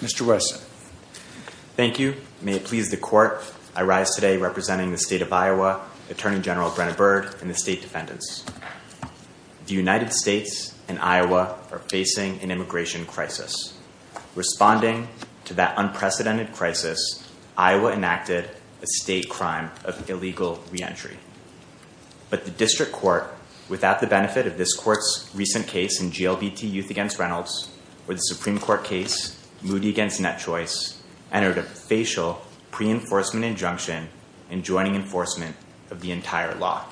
Mr. Wesson. Thank you. May it please the Court, I rise today representing the State of Iowa Attorney General Brenna Bird and the state defendants. The United States and Iowa are facing an immigration crisis. Responding to that unprecedented crisis, Iowa enacted a state crime of illegal reentry. But the District Court, without the benefit of this Court's recent case in GLBT Youth v. Reynolds, where the Supreme Court case Moody v. Net Choice entered a facial pre-enforcement injunction enjoining enforcement of the entire law.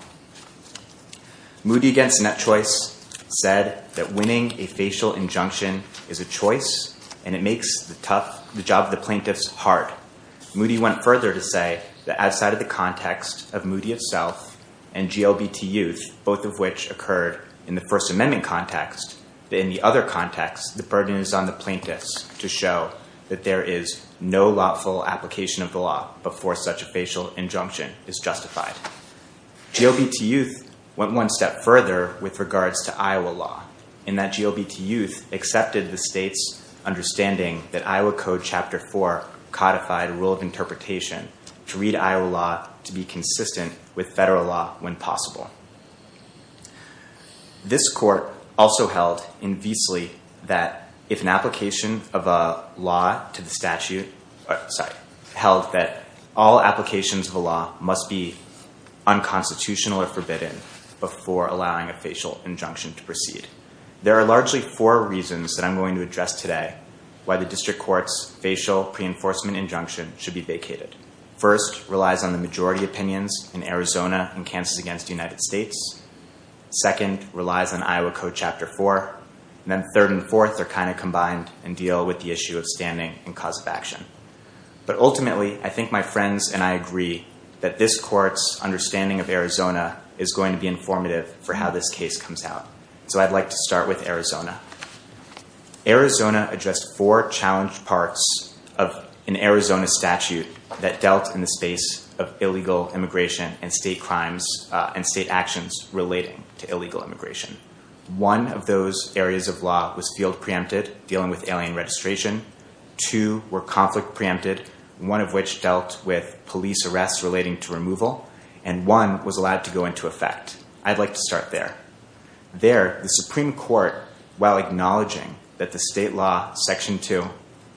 Moody v. Net Choice said that winning a facial injunction is a choice and it makes the job of the plaintiffs hard. Moody went further to say that outside of the context of Moody itself and GLBT Youth, both of which occurred in the First Amendment context, in the other context the burden is on the plaintiffs to show that there is no lawful application of the law before such a facial injunction is justified. GLBT Youth went one step further with regards to Iowa law in that GLBT Youth accepted the state's understanding that Iowa Code Chapter 4 codified rule of interpretation to read Iowa law to be consistent with federal law when possible. This court also held invesely that if an application of a law to the statute, sorry, held that all applications of a law must be unconstitutional or forbidden before allowing a facial injunction to proceed. There are largely four reasons that I'm going to address today why the District Court's facial pre-enforcement injunction should be First relies on the majority opinions in Arizona and Kansas against the United States. Second relies on Iowa Code Chapter 4. And then third and fourth are kind of combined and deal with the issue of standing and cause of action. But ultimately I think my friends and I agree that this court's understanding of Arizona is going to be informative for how this case comes out. So I'd like to start with Arizona. Arizona addressed four challenged parts of an Arizona statute that dealt in the space of illegal immigration and state crimes and state actions relating to illegal immigration. One of those areas of law was field preempted dealing with alien registration. Two were conflict preempted one of which dealt with police arrests relating to removal. And one was allowed to go into effect. I'd like to start there. There the Supreme Court while acknowledging that the state law section 2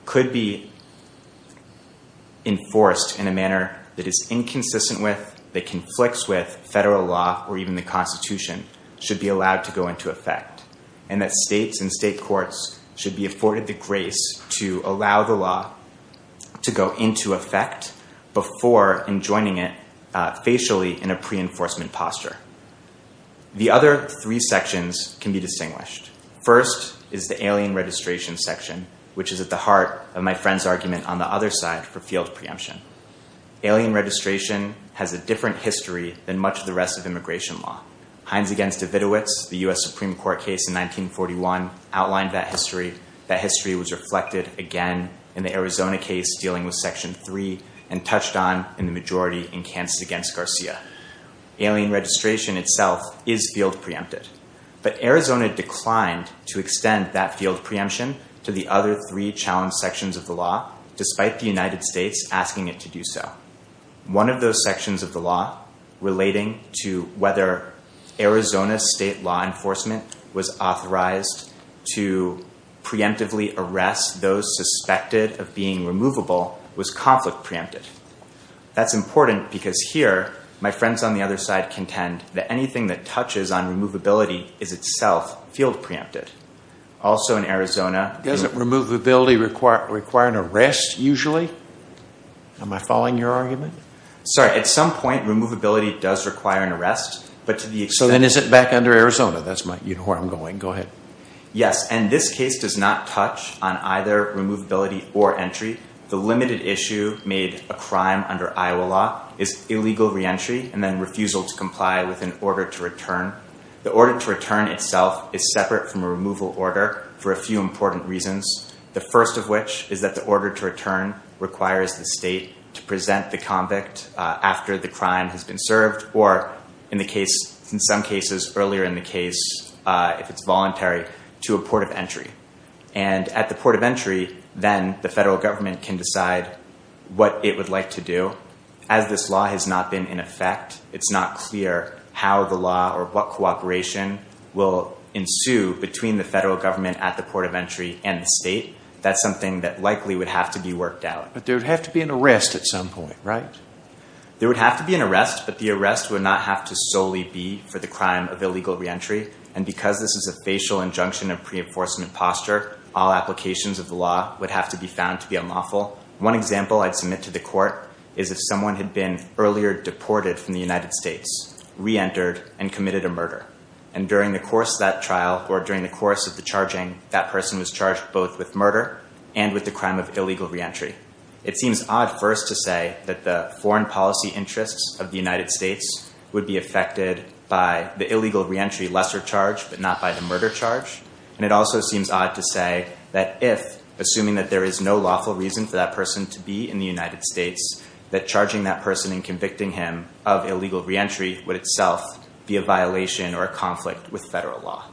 could be enforced in a manner that is inconsistent with that conflicts with federal law or even the Constitution should be allowed to go into effect. And that states and state courts should be afforded the grace to allow the law to go into effect before enjoining it facially in a pre-enforcement posture. The other three sections can be distinguished. First is the alien registration section which is at the heart of my friend's argument on the other side for field preemption. Alien registration has a different history than much of the rest of immigration law. Hines against Davidowitz the US Supreme Court case in 1941 outlined that history. That history was reflected again in the Arizona case dealing with section 3 and touched on in the majority in Kants against Garcia. Alien registration itself is field preempted but Arizona declined to extend that field preemption to the other three challenge sections of the law despite the United States asking it to do so. One of those sections of the law relating to whether Arizona state law enforcement was authorized to preemptively arrest those suspected of being removable was conflict preempted. That's important because here my friends on the other side contend that anything that touches on removability is itself field preempted. Also in Arizona... Doesn't removability require an arrest usually? Am I following your argument? Sorry at some point removability does require an arrest but to the extent... So then is it back under Arizona? That's my, you know where I'm going. Go ahead. Yes and this case does not touch on either removability or entry. The limited issue made a crime under Iowa law is illegal re-entry and then refusal to comply with an order to return. The order to return itself is separate from a removal order for a few important reasons. The first of which is that the order to return requires the state to present the convict after the crime has been served or in the case in some cases earlier in the case if it's voluntary to a port of entry. And at the port of entry then the federal government can decide what it would like to do. As this law has not been in effect it's not clear how the law or what cooperation will ensue between the federal government at the port of entry and the state. That's something that likely would have to be worked out. But there would have to be an arrest at some point right? There would have to be an arrest but the arrest would not have to solely be for the crime of illegal re-entry and because this is a facial injunction of pre-enforcement posture all applications of the law would have to be found to be unlawful. One example I'd submit to the court is if someone had been earlier deported from the United States, re-entered and committed a murder and during the course that trial or during the course of the charging that person was charged both with murder and with the crime of illegal re-entry. It seems odd first to say that the foreign policy interests of the United States would be affected by the illegal re-entry lesser charge but not by the And it also seems odd to say that if assuming that there is no lawful reason for that person to be in the United States that charging that person and convicting him of illegal re-entry would itself be a violation or a conflict with federal law.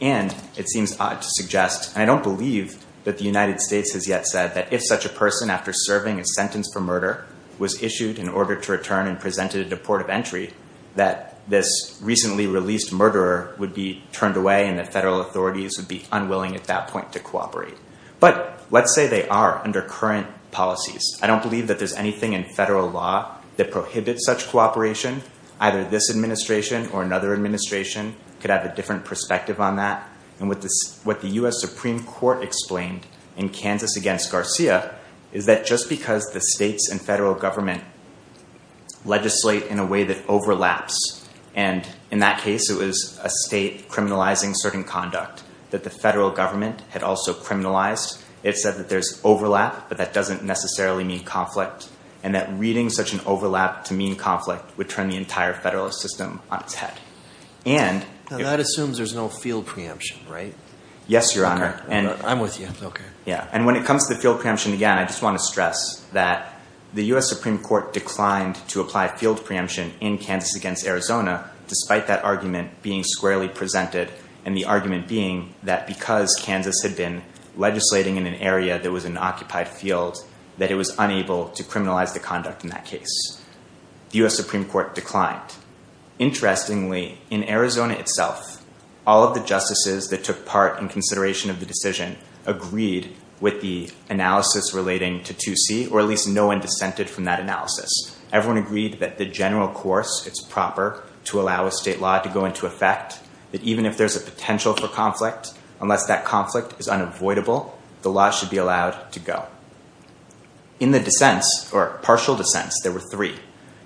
And it seems odd to suggest I don't believe that the United States has yet said that if such a person after serving a sentence for murder was issued in order to return and presented at the port of entry that this recently released murderer would be turned away and that federal authorities would be unwilling at that point to cooperate. But let's say they are under current policies. I don't believe that there's anything in federal law that prohibits such cooperation. Either this administration or another administration could have a different perspective on that. And what the U.S. Supreme Court explained in Kansas against Garcia is that just because the states and federal government legislate in a way that overlaps and in that case it was a state criminalizing certain conduct that the federal government had also criminalized. It said that there's overlap but that doesn't necessarily mean conflict and that reading such an overlap to mean conflict would turn the entire federal system on its head. And that assumes there's no field preemption, right? Yes, your honor. And I'm with you. Okay. Yeah. And when it comes to field preemption again I just want to stress that the U.S. Supreme Court declined to apply field preemption in Kansas against Arizona despite that argument being squarely presented and the argument being that because Kansas had been legislating in an area that was an occupied field that it was unable to criminalize the conduct in that case. The U.S. Supreme Court declined. Interestingly in Arizona itself all of the justices that took part in consideration of the decision agreed with the analysis relating to 2C or at least no one dissented from that analysis. Everyone agreed that the general course it's proper to allow a state law to go into effect that even if there's a potential for conflict unless that conflict is unavoidable the law should be allowed to go. In the dissents or partial dissents there were three.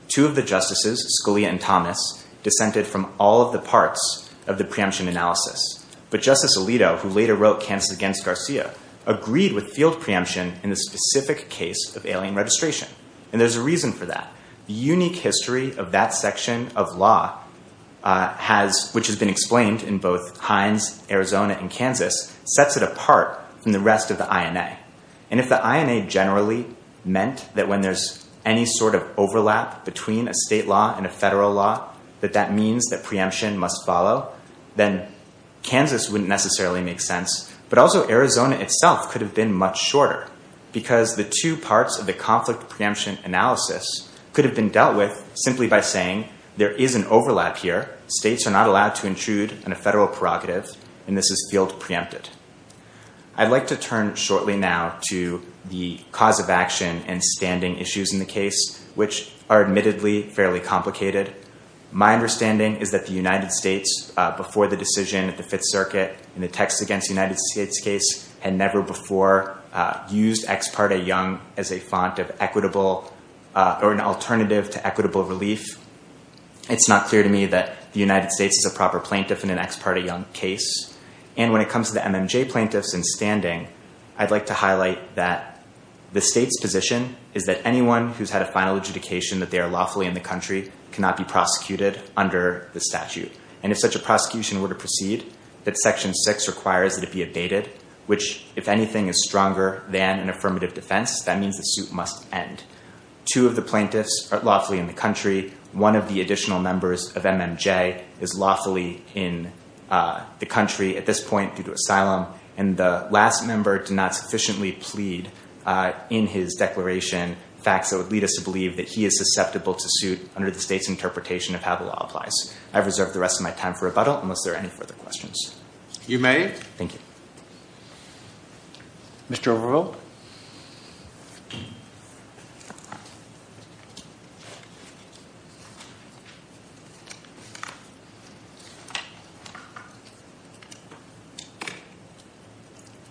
Two of the justices Scalia and Thomas dissented from all of the parts of the preemption analysis but Justice Alito who later wrote Kansas against Garcia agreed with field preemption in the specific case of alien registration and there's a reason for that. The unique history of that section of law has which has been explained in both Hines Arizona and Kansas sets it apart from the rest of the INA and if the INA generally meant that when there's any sort of overlap between a state law and a federal law that that means that preemption must follow then Kansas wouldn't necessarily make sense but also Arizona itself could have been much shorter because the two parts of the conflict preemption analysis could have been dealt with simply by saying there is an overlap here states are not allowed to intrude on a federal prerogative and this is field preempted. I'd like to turn shortly now to the cause of action and standing issues in the case which are admittedly fairly complicated. My understanding is that the United States before the decision at the Fifth Circuit in the text against the United States case had never before used ex parte young as a font of equitable or an alternative to equitable relief. It's not clear to me that the United States is a proper plaintiff in an ex parte young case and when it comes to the MMJ plaintiffs in standing I'd like to highlight that the state's position is that anyone who's had a final adjudication that they are lawfully in the country cannot be prosecuted under the statute and if such a prosecution were to proceed that section 6 requires it to be abated which if anything is stronger than an affirmative defense that means the suit must end. Two of the plaintiffs are lawfully in the country one of the additional members of MMJ is lawfully in the country at this point due to asylum and the last member did not sufficiently plead in his declaration facts that would lead us to believe that he is susceptible to suit under the state's interpretation of how the law applies. I've reserved the rest of my time for rebuttal unless there are any further questions. You may. Thank you. Mr. Overvalt.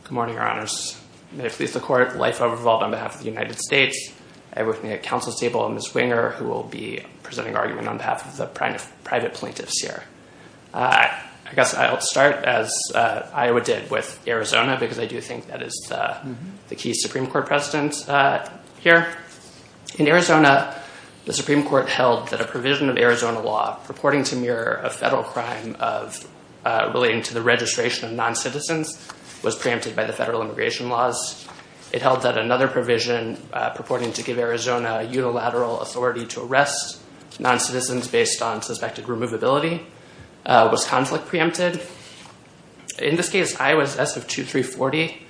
Good morning, your honors. May it please the court, Leif Overvalt on behalf of the United States. I work at counsel's table on Ms. Winger who will be presenting argument on behalf of the private plaintiffs here. I guess I'll start as Iowa did with Arizona because I do think that is the key Supreme Court president here. In Arizona the Supreme Court held that a provision of Arizona law purporting to mirror a federal crime of relating to the registration of non-citizens was preempted by the federal immigration laws. It held that another provision purporting to give Arizona a unilateral authority to arrest non-citizens based on suspected removability was conflict preempted. In this case Iowa's S of 2340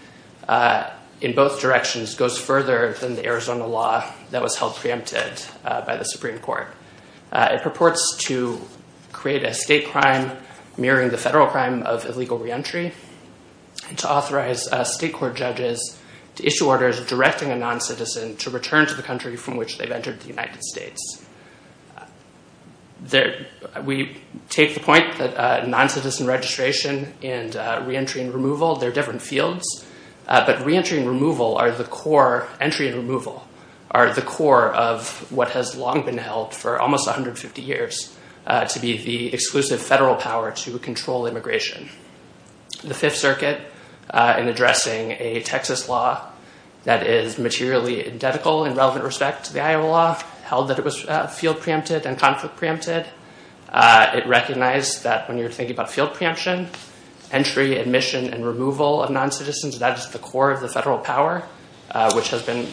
in both directions goes further than the Arizona law that was held preempted by the Supreme Court. It purports to create a state crime mirroring the federal crime of illegal reentry and to authorize state court judges to issue orders directing a non-citizen to return to the country from which they've entered the United States. We take the point that non-citizen registration and reentry and removal, they're different fields, but reentry and removal are the core entry and removal are the core of what has long been held for almost 150 years to be the exclusive federal power to control immigration. The Fifth Circuit in addressing a Texas law that is materially identical in relevant respect to the Iowa law held that it was field preempted and conflict preempted. It recognized that when you're thinking about field preemption, entry, admission, and removal of non-citizens, that is the core of the federal power which has been,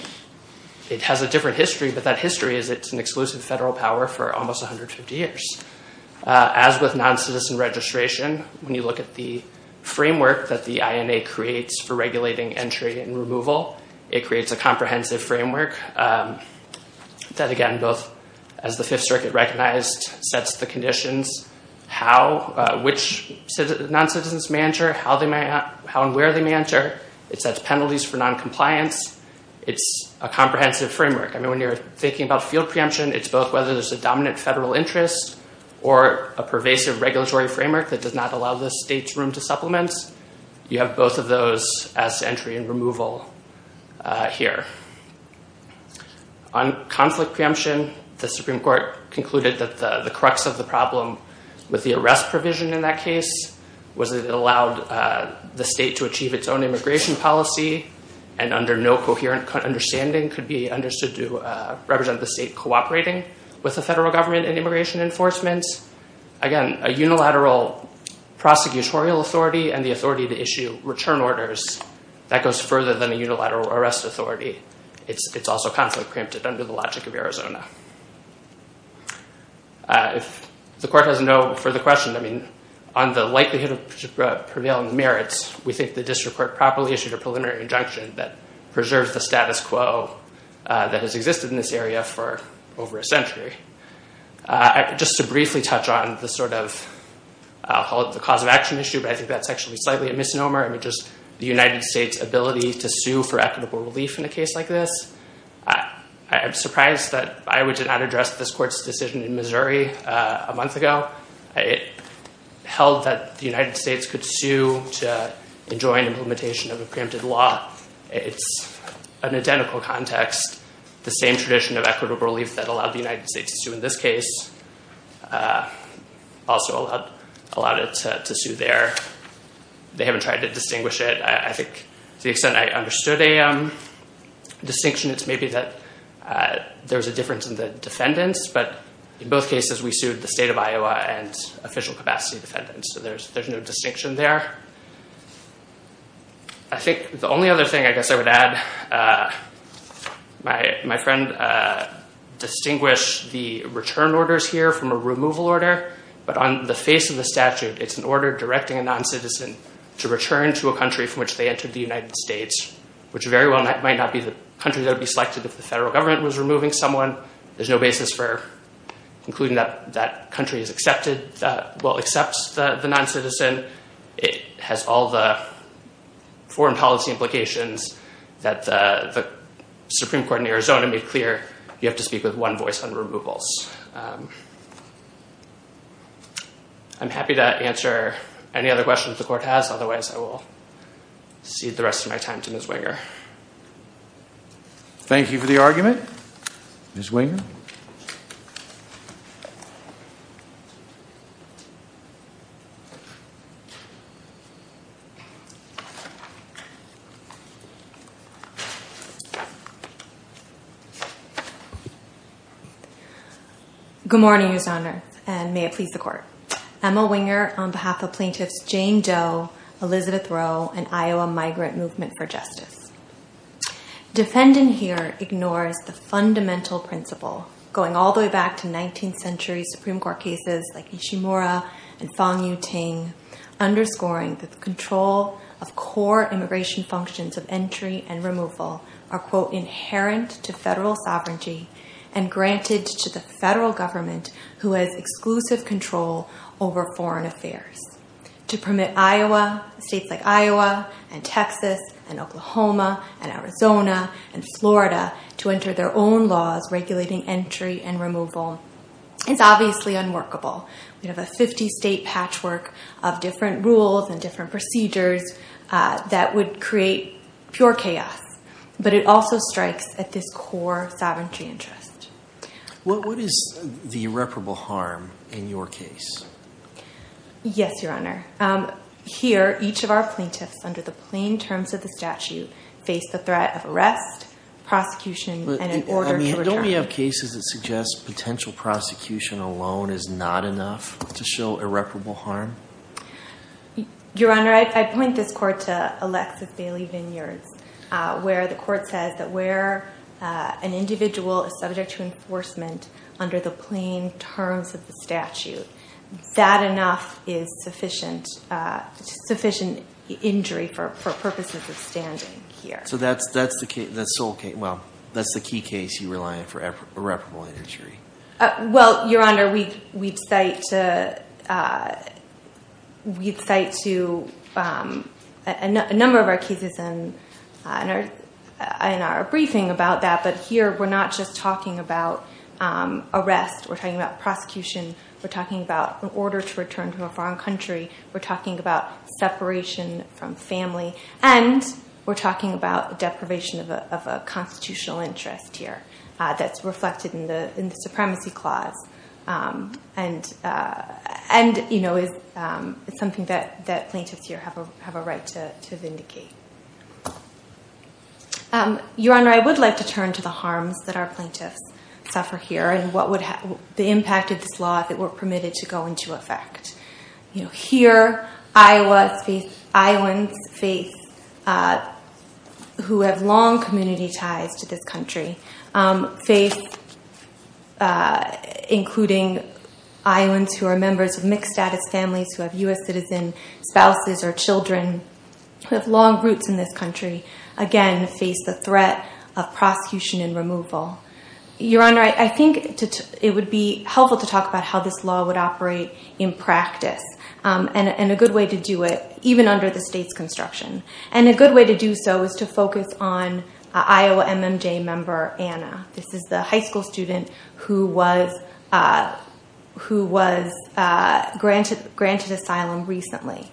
it has a different history, but that history is it's an exclusive federal power for almost 150 years. As with non-citizen registration, when you look at the framework that the INA creates for regulating entry and removal, it creates a comprehensive framework that again, both as the Fifth Circuit recognized, sets the conditions how, which non-citizens may enter, how and where they may enter. It sets penalties for non-compliance. It's a comprehensive framework. I mean, when you're thinking about field preemption, it's both whether there's a dominant federal interest or a pervasive regulatory framework that does not allow the state's room to supplement. You have both of those as entry and removal here. On conflict preemption, the Supreme Court concluded that the crux of the problem with the arrest provision in that case was it allowed the state to achieve its own immigration policy and under no coherent understanding could be understood to represent the state cooperating with the federal government and immigration enforcements. Again, a unilateral prosecutorial authority and the authority to issue return orders, that goes further than a unilateral arrest authority. It's also conflict preempted under the logic of Arizona. If the court has no further questions, I mean, on the likelihood of prevailing merits, we think the district court properly issued a preliminary injunction that preserves the status quo that has existed in this area for over a century. Just to briefly touch on the cause of action issue, but I think that's actually slightly a misnomer. I mean, just the United States' ability to sue for equitable relief in a case like this. I'm surprised that I would not address this court's decision in Missouri a month ago. It held that the United States could sue to enjoin implementation of a preempted law. It's an identical context, the same tradition of equitable relief that allowed the United States to sue in this case also allowed it to sue there. They haven't tried to distinguish it. I think to the extent I understood a distinction, it's maybe that there's a difference in the defendants, but in both cases we sued the state of Iowa and official capacity defendants, so there's no distinction there. I think the only other thing I guess I would add, my friend distinguished the return orders here from a removal order, but on the face of the statute it's an order directing a non-citizen to return to a country from which they entered the United States, which very well might not be the country that would be selected if the federal government was removing someone. There's no basis for concluding that country is accepted, well accepts the non-citizen. It has all the foreign policy implications that the Supreme Court in Arizona made clear you have to speak with one voice on removals. I'm happy to answer any other questions the court has, otherwise I will cede the rest of my time to Ms. Winger. Thank you for the argument, Ms. Winger. Good morning, Your Honor, and may it please the court. Emma Winger on behalf of plaintiffs Jane Doe, Elizabeth Rowe, and Iowa Migrant Movement for Justice. Defendant here ignores the fundamental principle going all the way back to 19th century Supreme Court cases like Ishimura and Fang Yuting, underscoring that the control of core immigration functions of entry and removal are inherent to federal sovereignty and granted to the federal government who has exclusive control over foreign affairs. To permit Iowa, states like Iowa and Texas and Oklahoma and Arizona and Florida to enter their own laws regulating entry and removal is obviously unworkable. We have a 50-state patchwork of different rules and different procedures that would create pure chaos, but it also strikes at this core sovereignty interest. What is the irreparable harm in your case? Yes, Your Honor. Here, each of our plaintiffs under the plain terms of the statute face the threat of arrest, prosecution, and an order to return. Don't we have cases that suggest potential prosecution alone is not enough to show irreparable harm? Your Honor, I point this court to Alexis Bailey Vineyards, where the court says that where an individual is subject to enforcement under the plain terms of the statute, that enough is sufficient sufficient injury for purposes of standing here. So that's the case, the sole case, well that's the key case you rely on for irreparable injury. Well, Your Honor, we'd cite to a number of our cases in our briefing about that, but here we're not just talking about arrest, we're talking about prosecution, we're talking about an order to return to a foreign country, we're talking about separation from family, and we're talking about deprivation of a constitutional interest here that's reflected in the Supremacy Clause, and you know, it's something that plaintiffs here have a right to vindicate. Your Honor, I would like to turn to the harms that our plaintiffs suffer here, and the impact of this law if it were permitted to go into effect. You know, here, Iowans who have long community ties to this country, including Iowans who are members of mixed-status families, who have U.S. citizen spouses or children, who have long roots in this country, again face the threat of prosecution and removal. Your Honor, I think it would be helpful to talk about how this law would operate in practice, and a good way to do it, even under the state's construction. And a good way to do so is to focus on an Iowa MMJ member, Anna. This is the high school student who was granted asylum recently.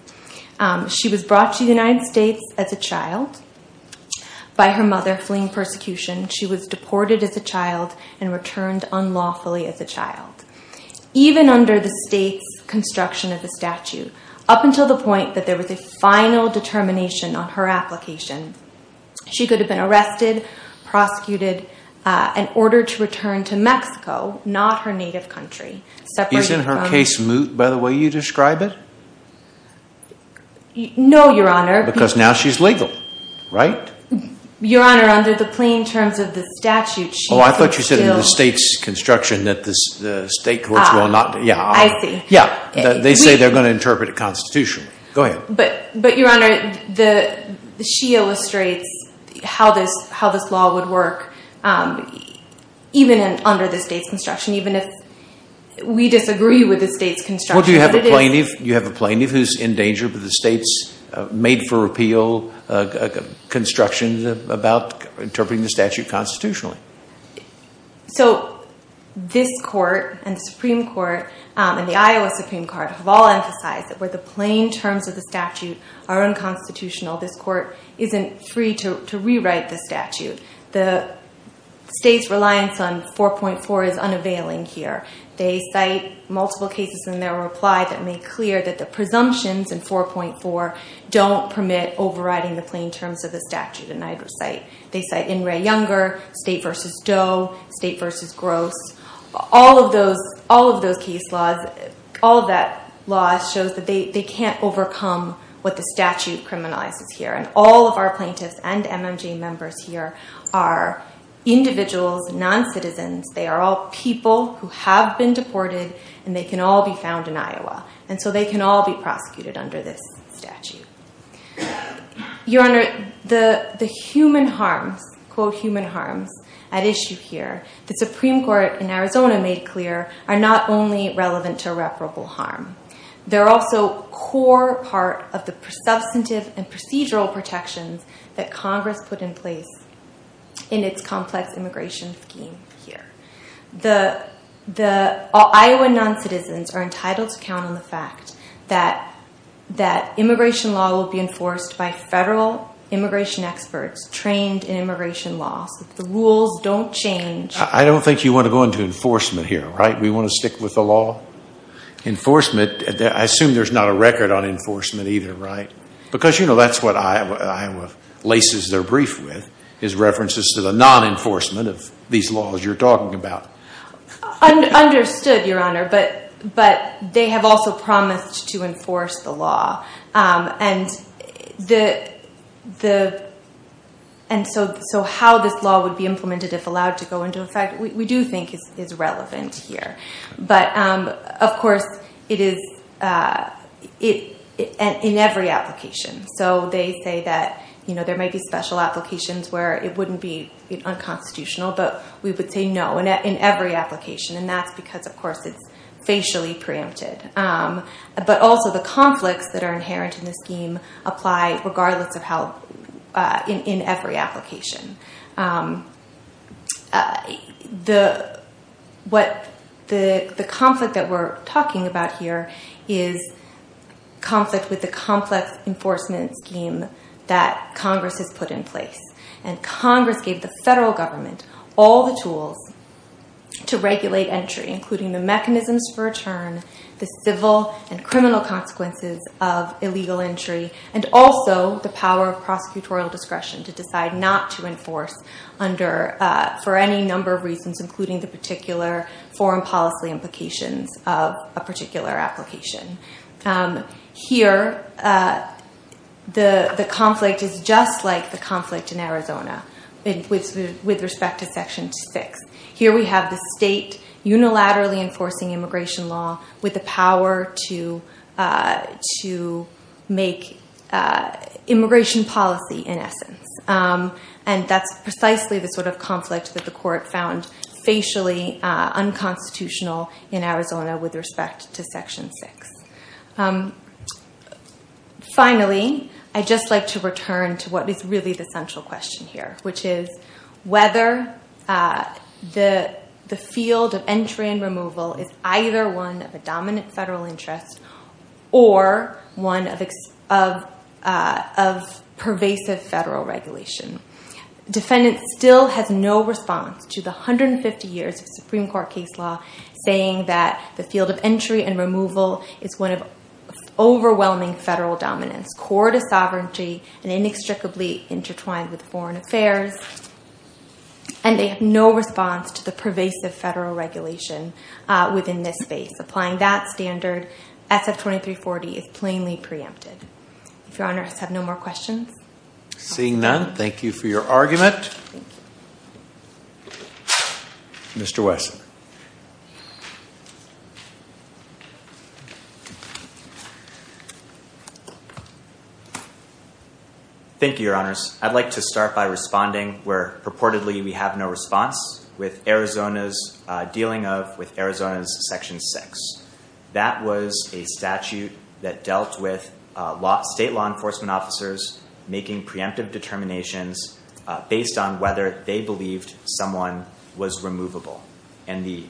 She was brought to the United States as a child by her mother, fleeing persecution. She was deported as a child and returned unlawfully as a child. Even under the state's construction of the statute, up until the point that there was a final determination on her application, she could have been arrested, prosecuted, and ordered to return to Mexico, not her native country. Isn't her case moot by the way you describe it? No, Your Honor. Because now she's legal, right? Your Honor, under the plain terms of the state's construction that the state courts will not... I see. Yeah, they say they're going to interpret it constitutionally. Go ahead. But Your Honor, she illustrates how this law would work, even under the state's construction, even if we disagree with the state's construction. What do you have a plaintiff? You have a plaintiff who's in danger, but the state's made-for-repeal construction about interpreting the statute constitutionally. So this court and the Supreme Court and the Iowa Supreme Court have all emphasized that where the plain terms of the statute are unconstitutional, this court isn't free to rewrite the statute. The state's reliance on 4.4 is unavailing here. They cite multiple cases in their reply that make clear that the presumptions in 4.4 don't permit overriding the plain terms of the statute in either site. They cite In re Younger, State v. Doe, State v. Gross. All of those case laws, all of that law shows that they can't overcome what the statute criminalizes here. All of our plaintiffs and MMJ members here are individuals, non-citizens. They are all people who have been deported and they can all be prosecuted under this statute. The human harms at issue here, the Supreme Court in Arizona made clear, are not only relevant to reparable harm. They're also core part of the substantive and procedural protections that Congress put in place in its complex immigration scheme here. The Iowa non-citizens are entitled to count on the fact that immigration law will be enforced by federal immigration experts trained in immigration law so that the rules don't change. I don't think you want to go into enforcement here, right? We want to stick with the law? Enforcement, I assume there's not a record on enforcement either, right? Because you know that's what Iowa laces their brief with is references to the non-enforcement of these laws you're talking about. Understood, Your Honor, but they have also promised to enforce the law. And so how this law would be implemented if allowed to go into effect, we do think is relevant here. But of course, it is in every application. So they say that there may be special applications where it wouldn't be unconstitutional, but we would say no in every application. And that's because, of course, it's facially preempted. But also the conflicts that are inherent in the scheme apply regardless of how in every application. The conflict that we're talking about here is conflict with the complex enforcement scheme that Congress has put in place. And Congress gave the federal government all the tools to regulate entry, including the mechanisms for return, the civil and criminal consequences of illegal entry, and also the power of prosecutorial discretion to decide not to enforce for any number of reasons, including the particular foreign policy implications of a particular application. Here, the conflict is just like the conflict in Arizona with respect to Section 6. Finally, I'd just like to return to what is really the central question here, which is whether the field of entry and removal is either one of a dominant federal interest or one of pervasive federal regulation. Defendants still have no response to the 150 years of Supreme Court case law saying that the field of entry and removal is one of overwhelming federal dominance, core to sovereignty and inextricably intertwined with foreign affairs. And they have no response to the pervasive federal regulation within this space. Applying that standard, SF-2340 is plainly preempted. If your honors have no more questions. Seeing none, thank you for your argument. Mr. Wesson. Thank you, your honors. I'd like to start by responding where purportedly we have no response with Arizona's dealing of with Arizona's Section 6. That was a statute that dealt with state law enforcement officers making preemptive determinations based on whether they believed someone was removable. And the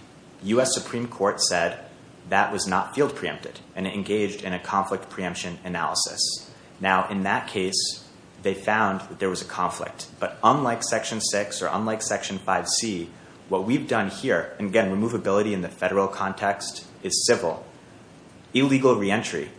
U.S. Supreme Court said that was not field preempted and engaged in a conflict preemption analysis. Now, in that case, they found that there was a conflict. But unlike Section 6 or unlike Section 5C, what we've done here, and again, removability in the federal context, is several. Illegal reentry,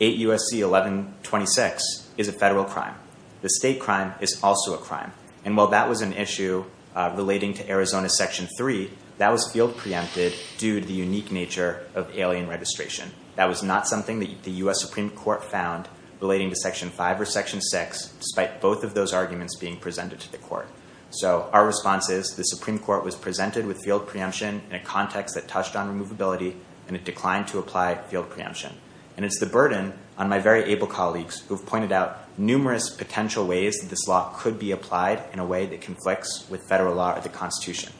8 U.S.C. 1126, is a federal crime. The state crime is also a crime. And while that was an issue relating to Arizona's Section 3, that was field preempted due to the unique nature of alien registration. That was not something that the U.S. Supreme Court found relating to Section 5 or Section 6, despite both of those arguments being presented to the court. So our response is the Supreme Court was presented with field preemption in a context that touched on removability, and it declined to apply field preemption. And it's the burden on my very able colleagues who have pointed out numerous potential ways that this law could be applied in a way that conflicts with federal law or the Constitution.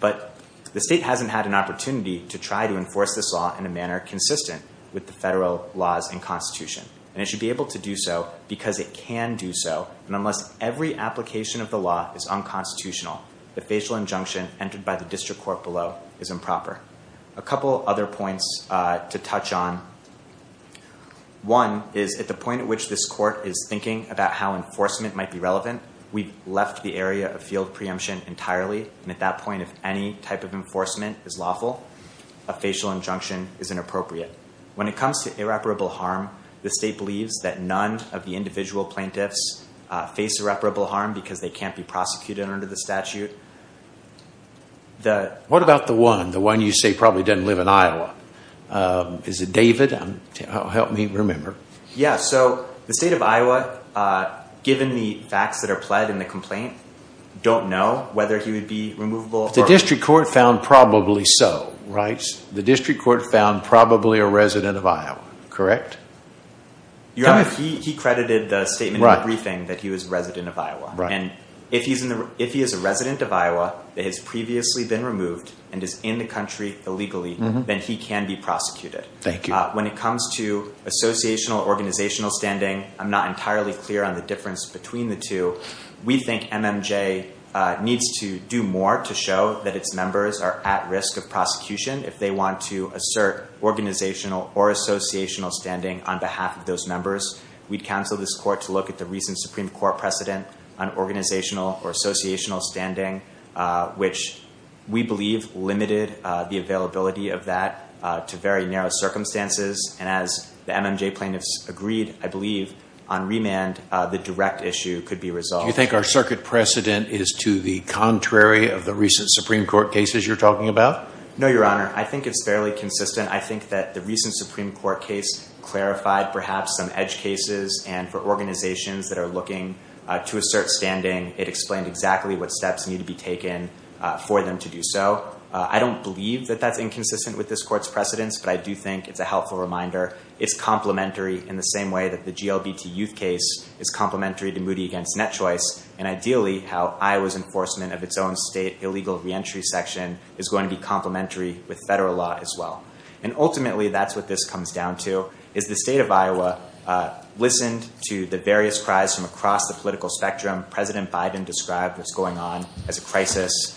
But the state hasn't had an opportunity to try to enforce this law in a manner consistent with the federal laws and Constitution. And it should be able to do so because it can do so. And unless every application of the law is unconstitutional, the facial injunction entered by the district court below is improper. A couple other points to touch on. One is at the point at which this court is thinking about how enforcement might be relevant, we've left the area of field preemption entirely. At that point, if any type of enforcement is lawful, a facial injunction is inappropriate. When it comes to irreparable harm, the state believes that none of the individual plaintiffs face irreparable harm because they can't be prosecuted under the statute. What about the one, the one you say probably doesn't live in Iowa? Is it David? Help me remember. Yeah, so the state of Iowa, given the facts that are pled in the complaint, don't know whether he would be removable. The district court found probably so, right? The district court found probably a resident of Iowa, correct? He credited the statement in the briefing that he was a resident of Iowa. And if he is a resident of Iowa that has previously been removed and is in the country illegally, then he can be prosecuted. Thank you. When it comes to associational organizational standing, I'm not entirely clear on the difference between the two. We think MMJ needs to do more to show that its members are at risk of prosecution if they want to assert organizational or associational standing on behalf of those members. We'd counsel this court to look at the recent Supreme Court precedent on organizational or associational standing, which we believe limited the availability of that to very narrow circumstances. And as the MMJ plaintiffs agreed, I believe on remand, the direct issue could be resolved. Do you think our circuit precedent is to the contrary of the recent Supreme Court cases you're talking about? No, Your Honor. I think it's fairly consistent. I think that the recent Supreme Court case clarified perhaps some edge cases. And for organizations that are looking to assert standing, it explained exactly what steps need to be taken for them to do so. I don't believe that that's inconsistent with this court's precedents, but I do think it's a helpful reminder. It's complementary in the same way that the GLBT youth case is complementary to Moody v. Net Choice. And ideally, how Iowa's enforcement of its own state illegal reentry section is going to be complementary with federal law as well. And ultimately, that's what this comes down to, is the state of Iowa listened to the various cries from across the political spectrum. President Biden described what's going on as a crisis.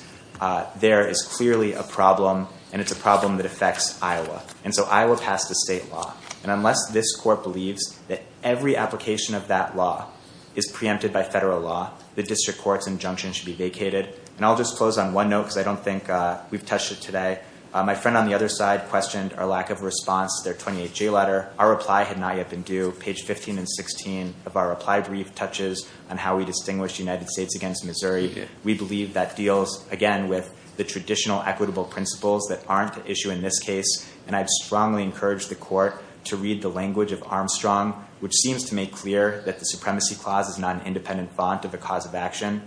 There is clearly a problem, and it's a problem that affects Iowa. And so Iowa passed a state law. And unless this court believes that every application of that law is preempted by federal law, the district court's injunction should be vacated. And I'll just close on one note because I don't think we've touched it today. My friend on the other side questioned our lack of response to their 28-J letter. Our reply had not yet been due. Page 15 and 16 of our reply brief touches on how we distinguish the United States against Missouri. We believe that deals, again, with the traditional equitable principles that aren't at issue in this case. And I'd strongly encourage the court to read the language of Armstrong, which seems to make clear that the Supremacy Clause is not an independent font of the cause of action.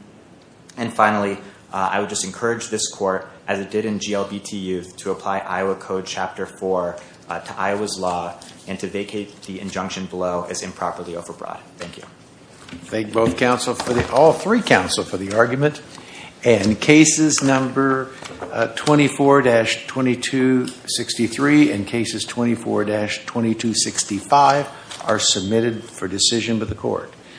And finally, I would just encourage this court, as it did in GLBT Youth, to apply Iowa Code Chapter 4 to Iowa's law and to vacate the injunction below as improperly overbrought. Thank you. Thank all three counsel for the argument. And cases number 24-2263 and cases 24-2265 are submitted for decision by the court.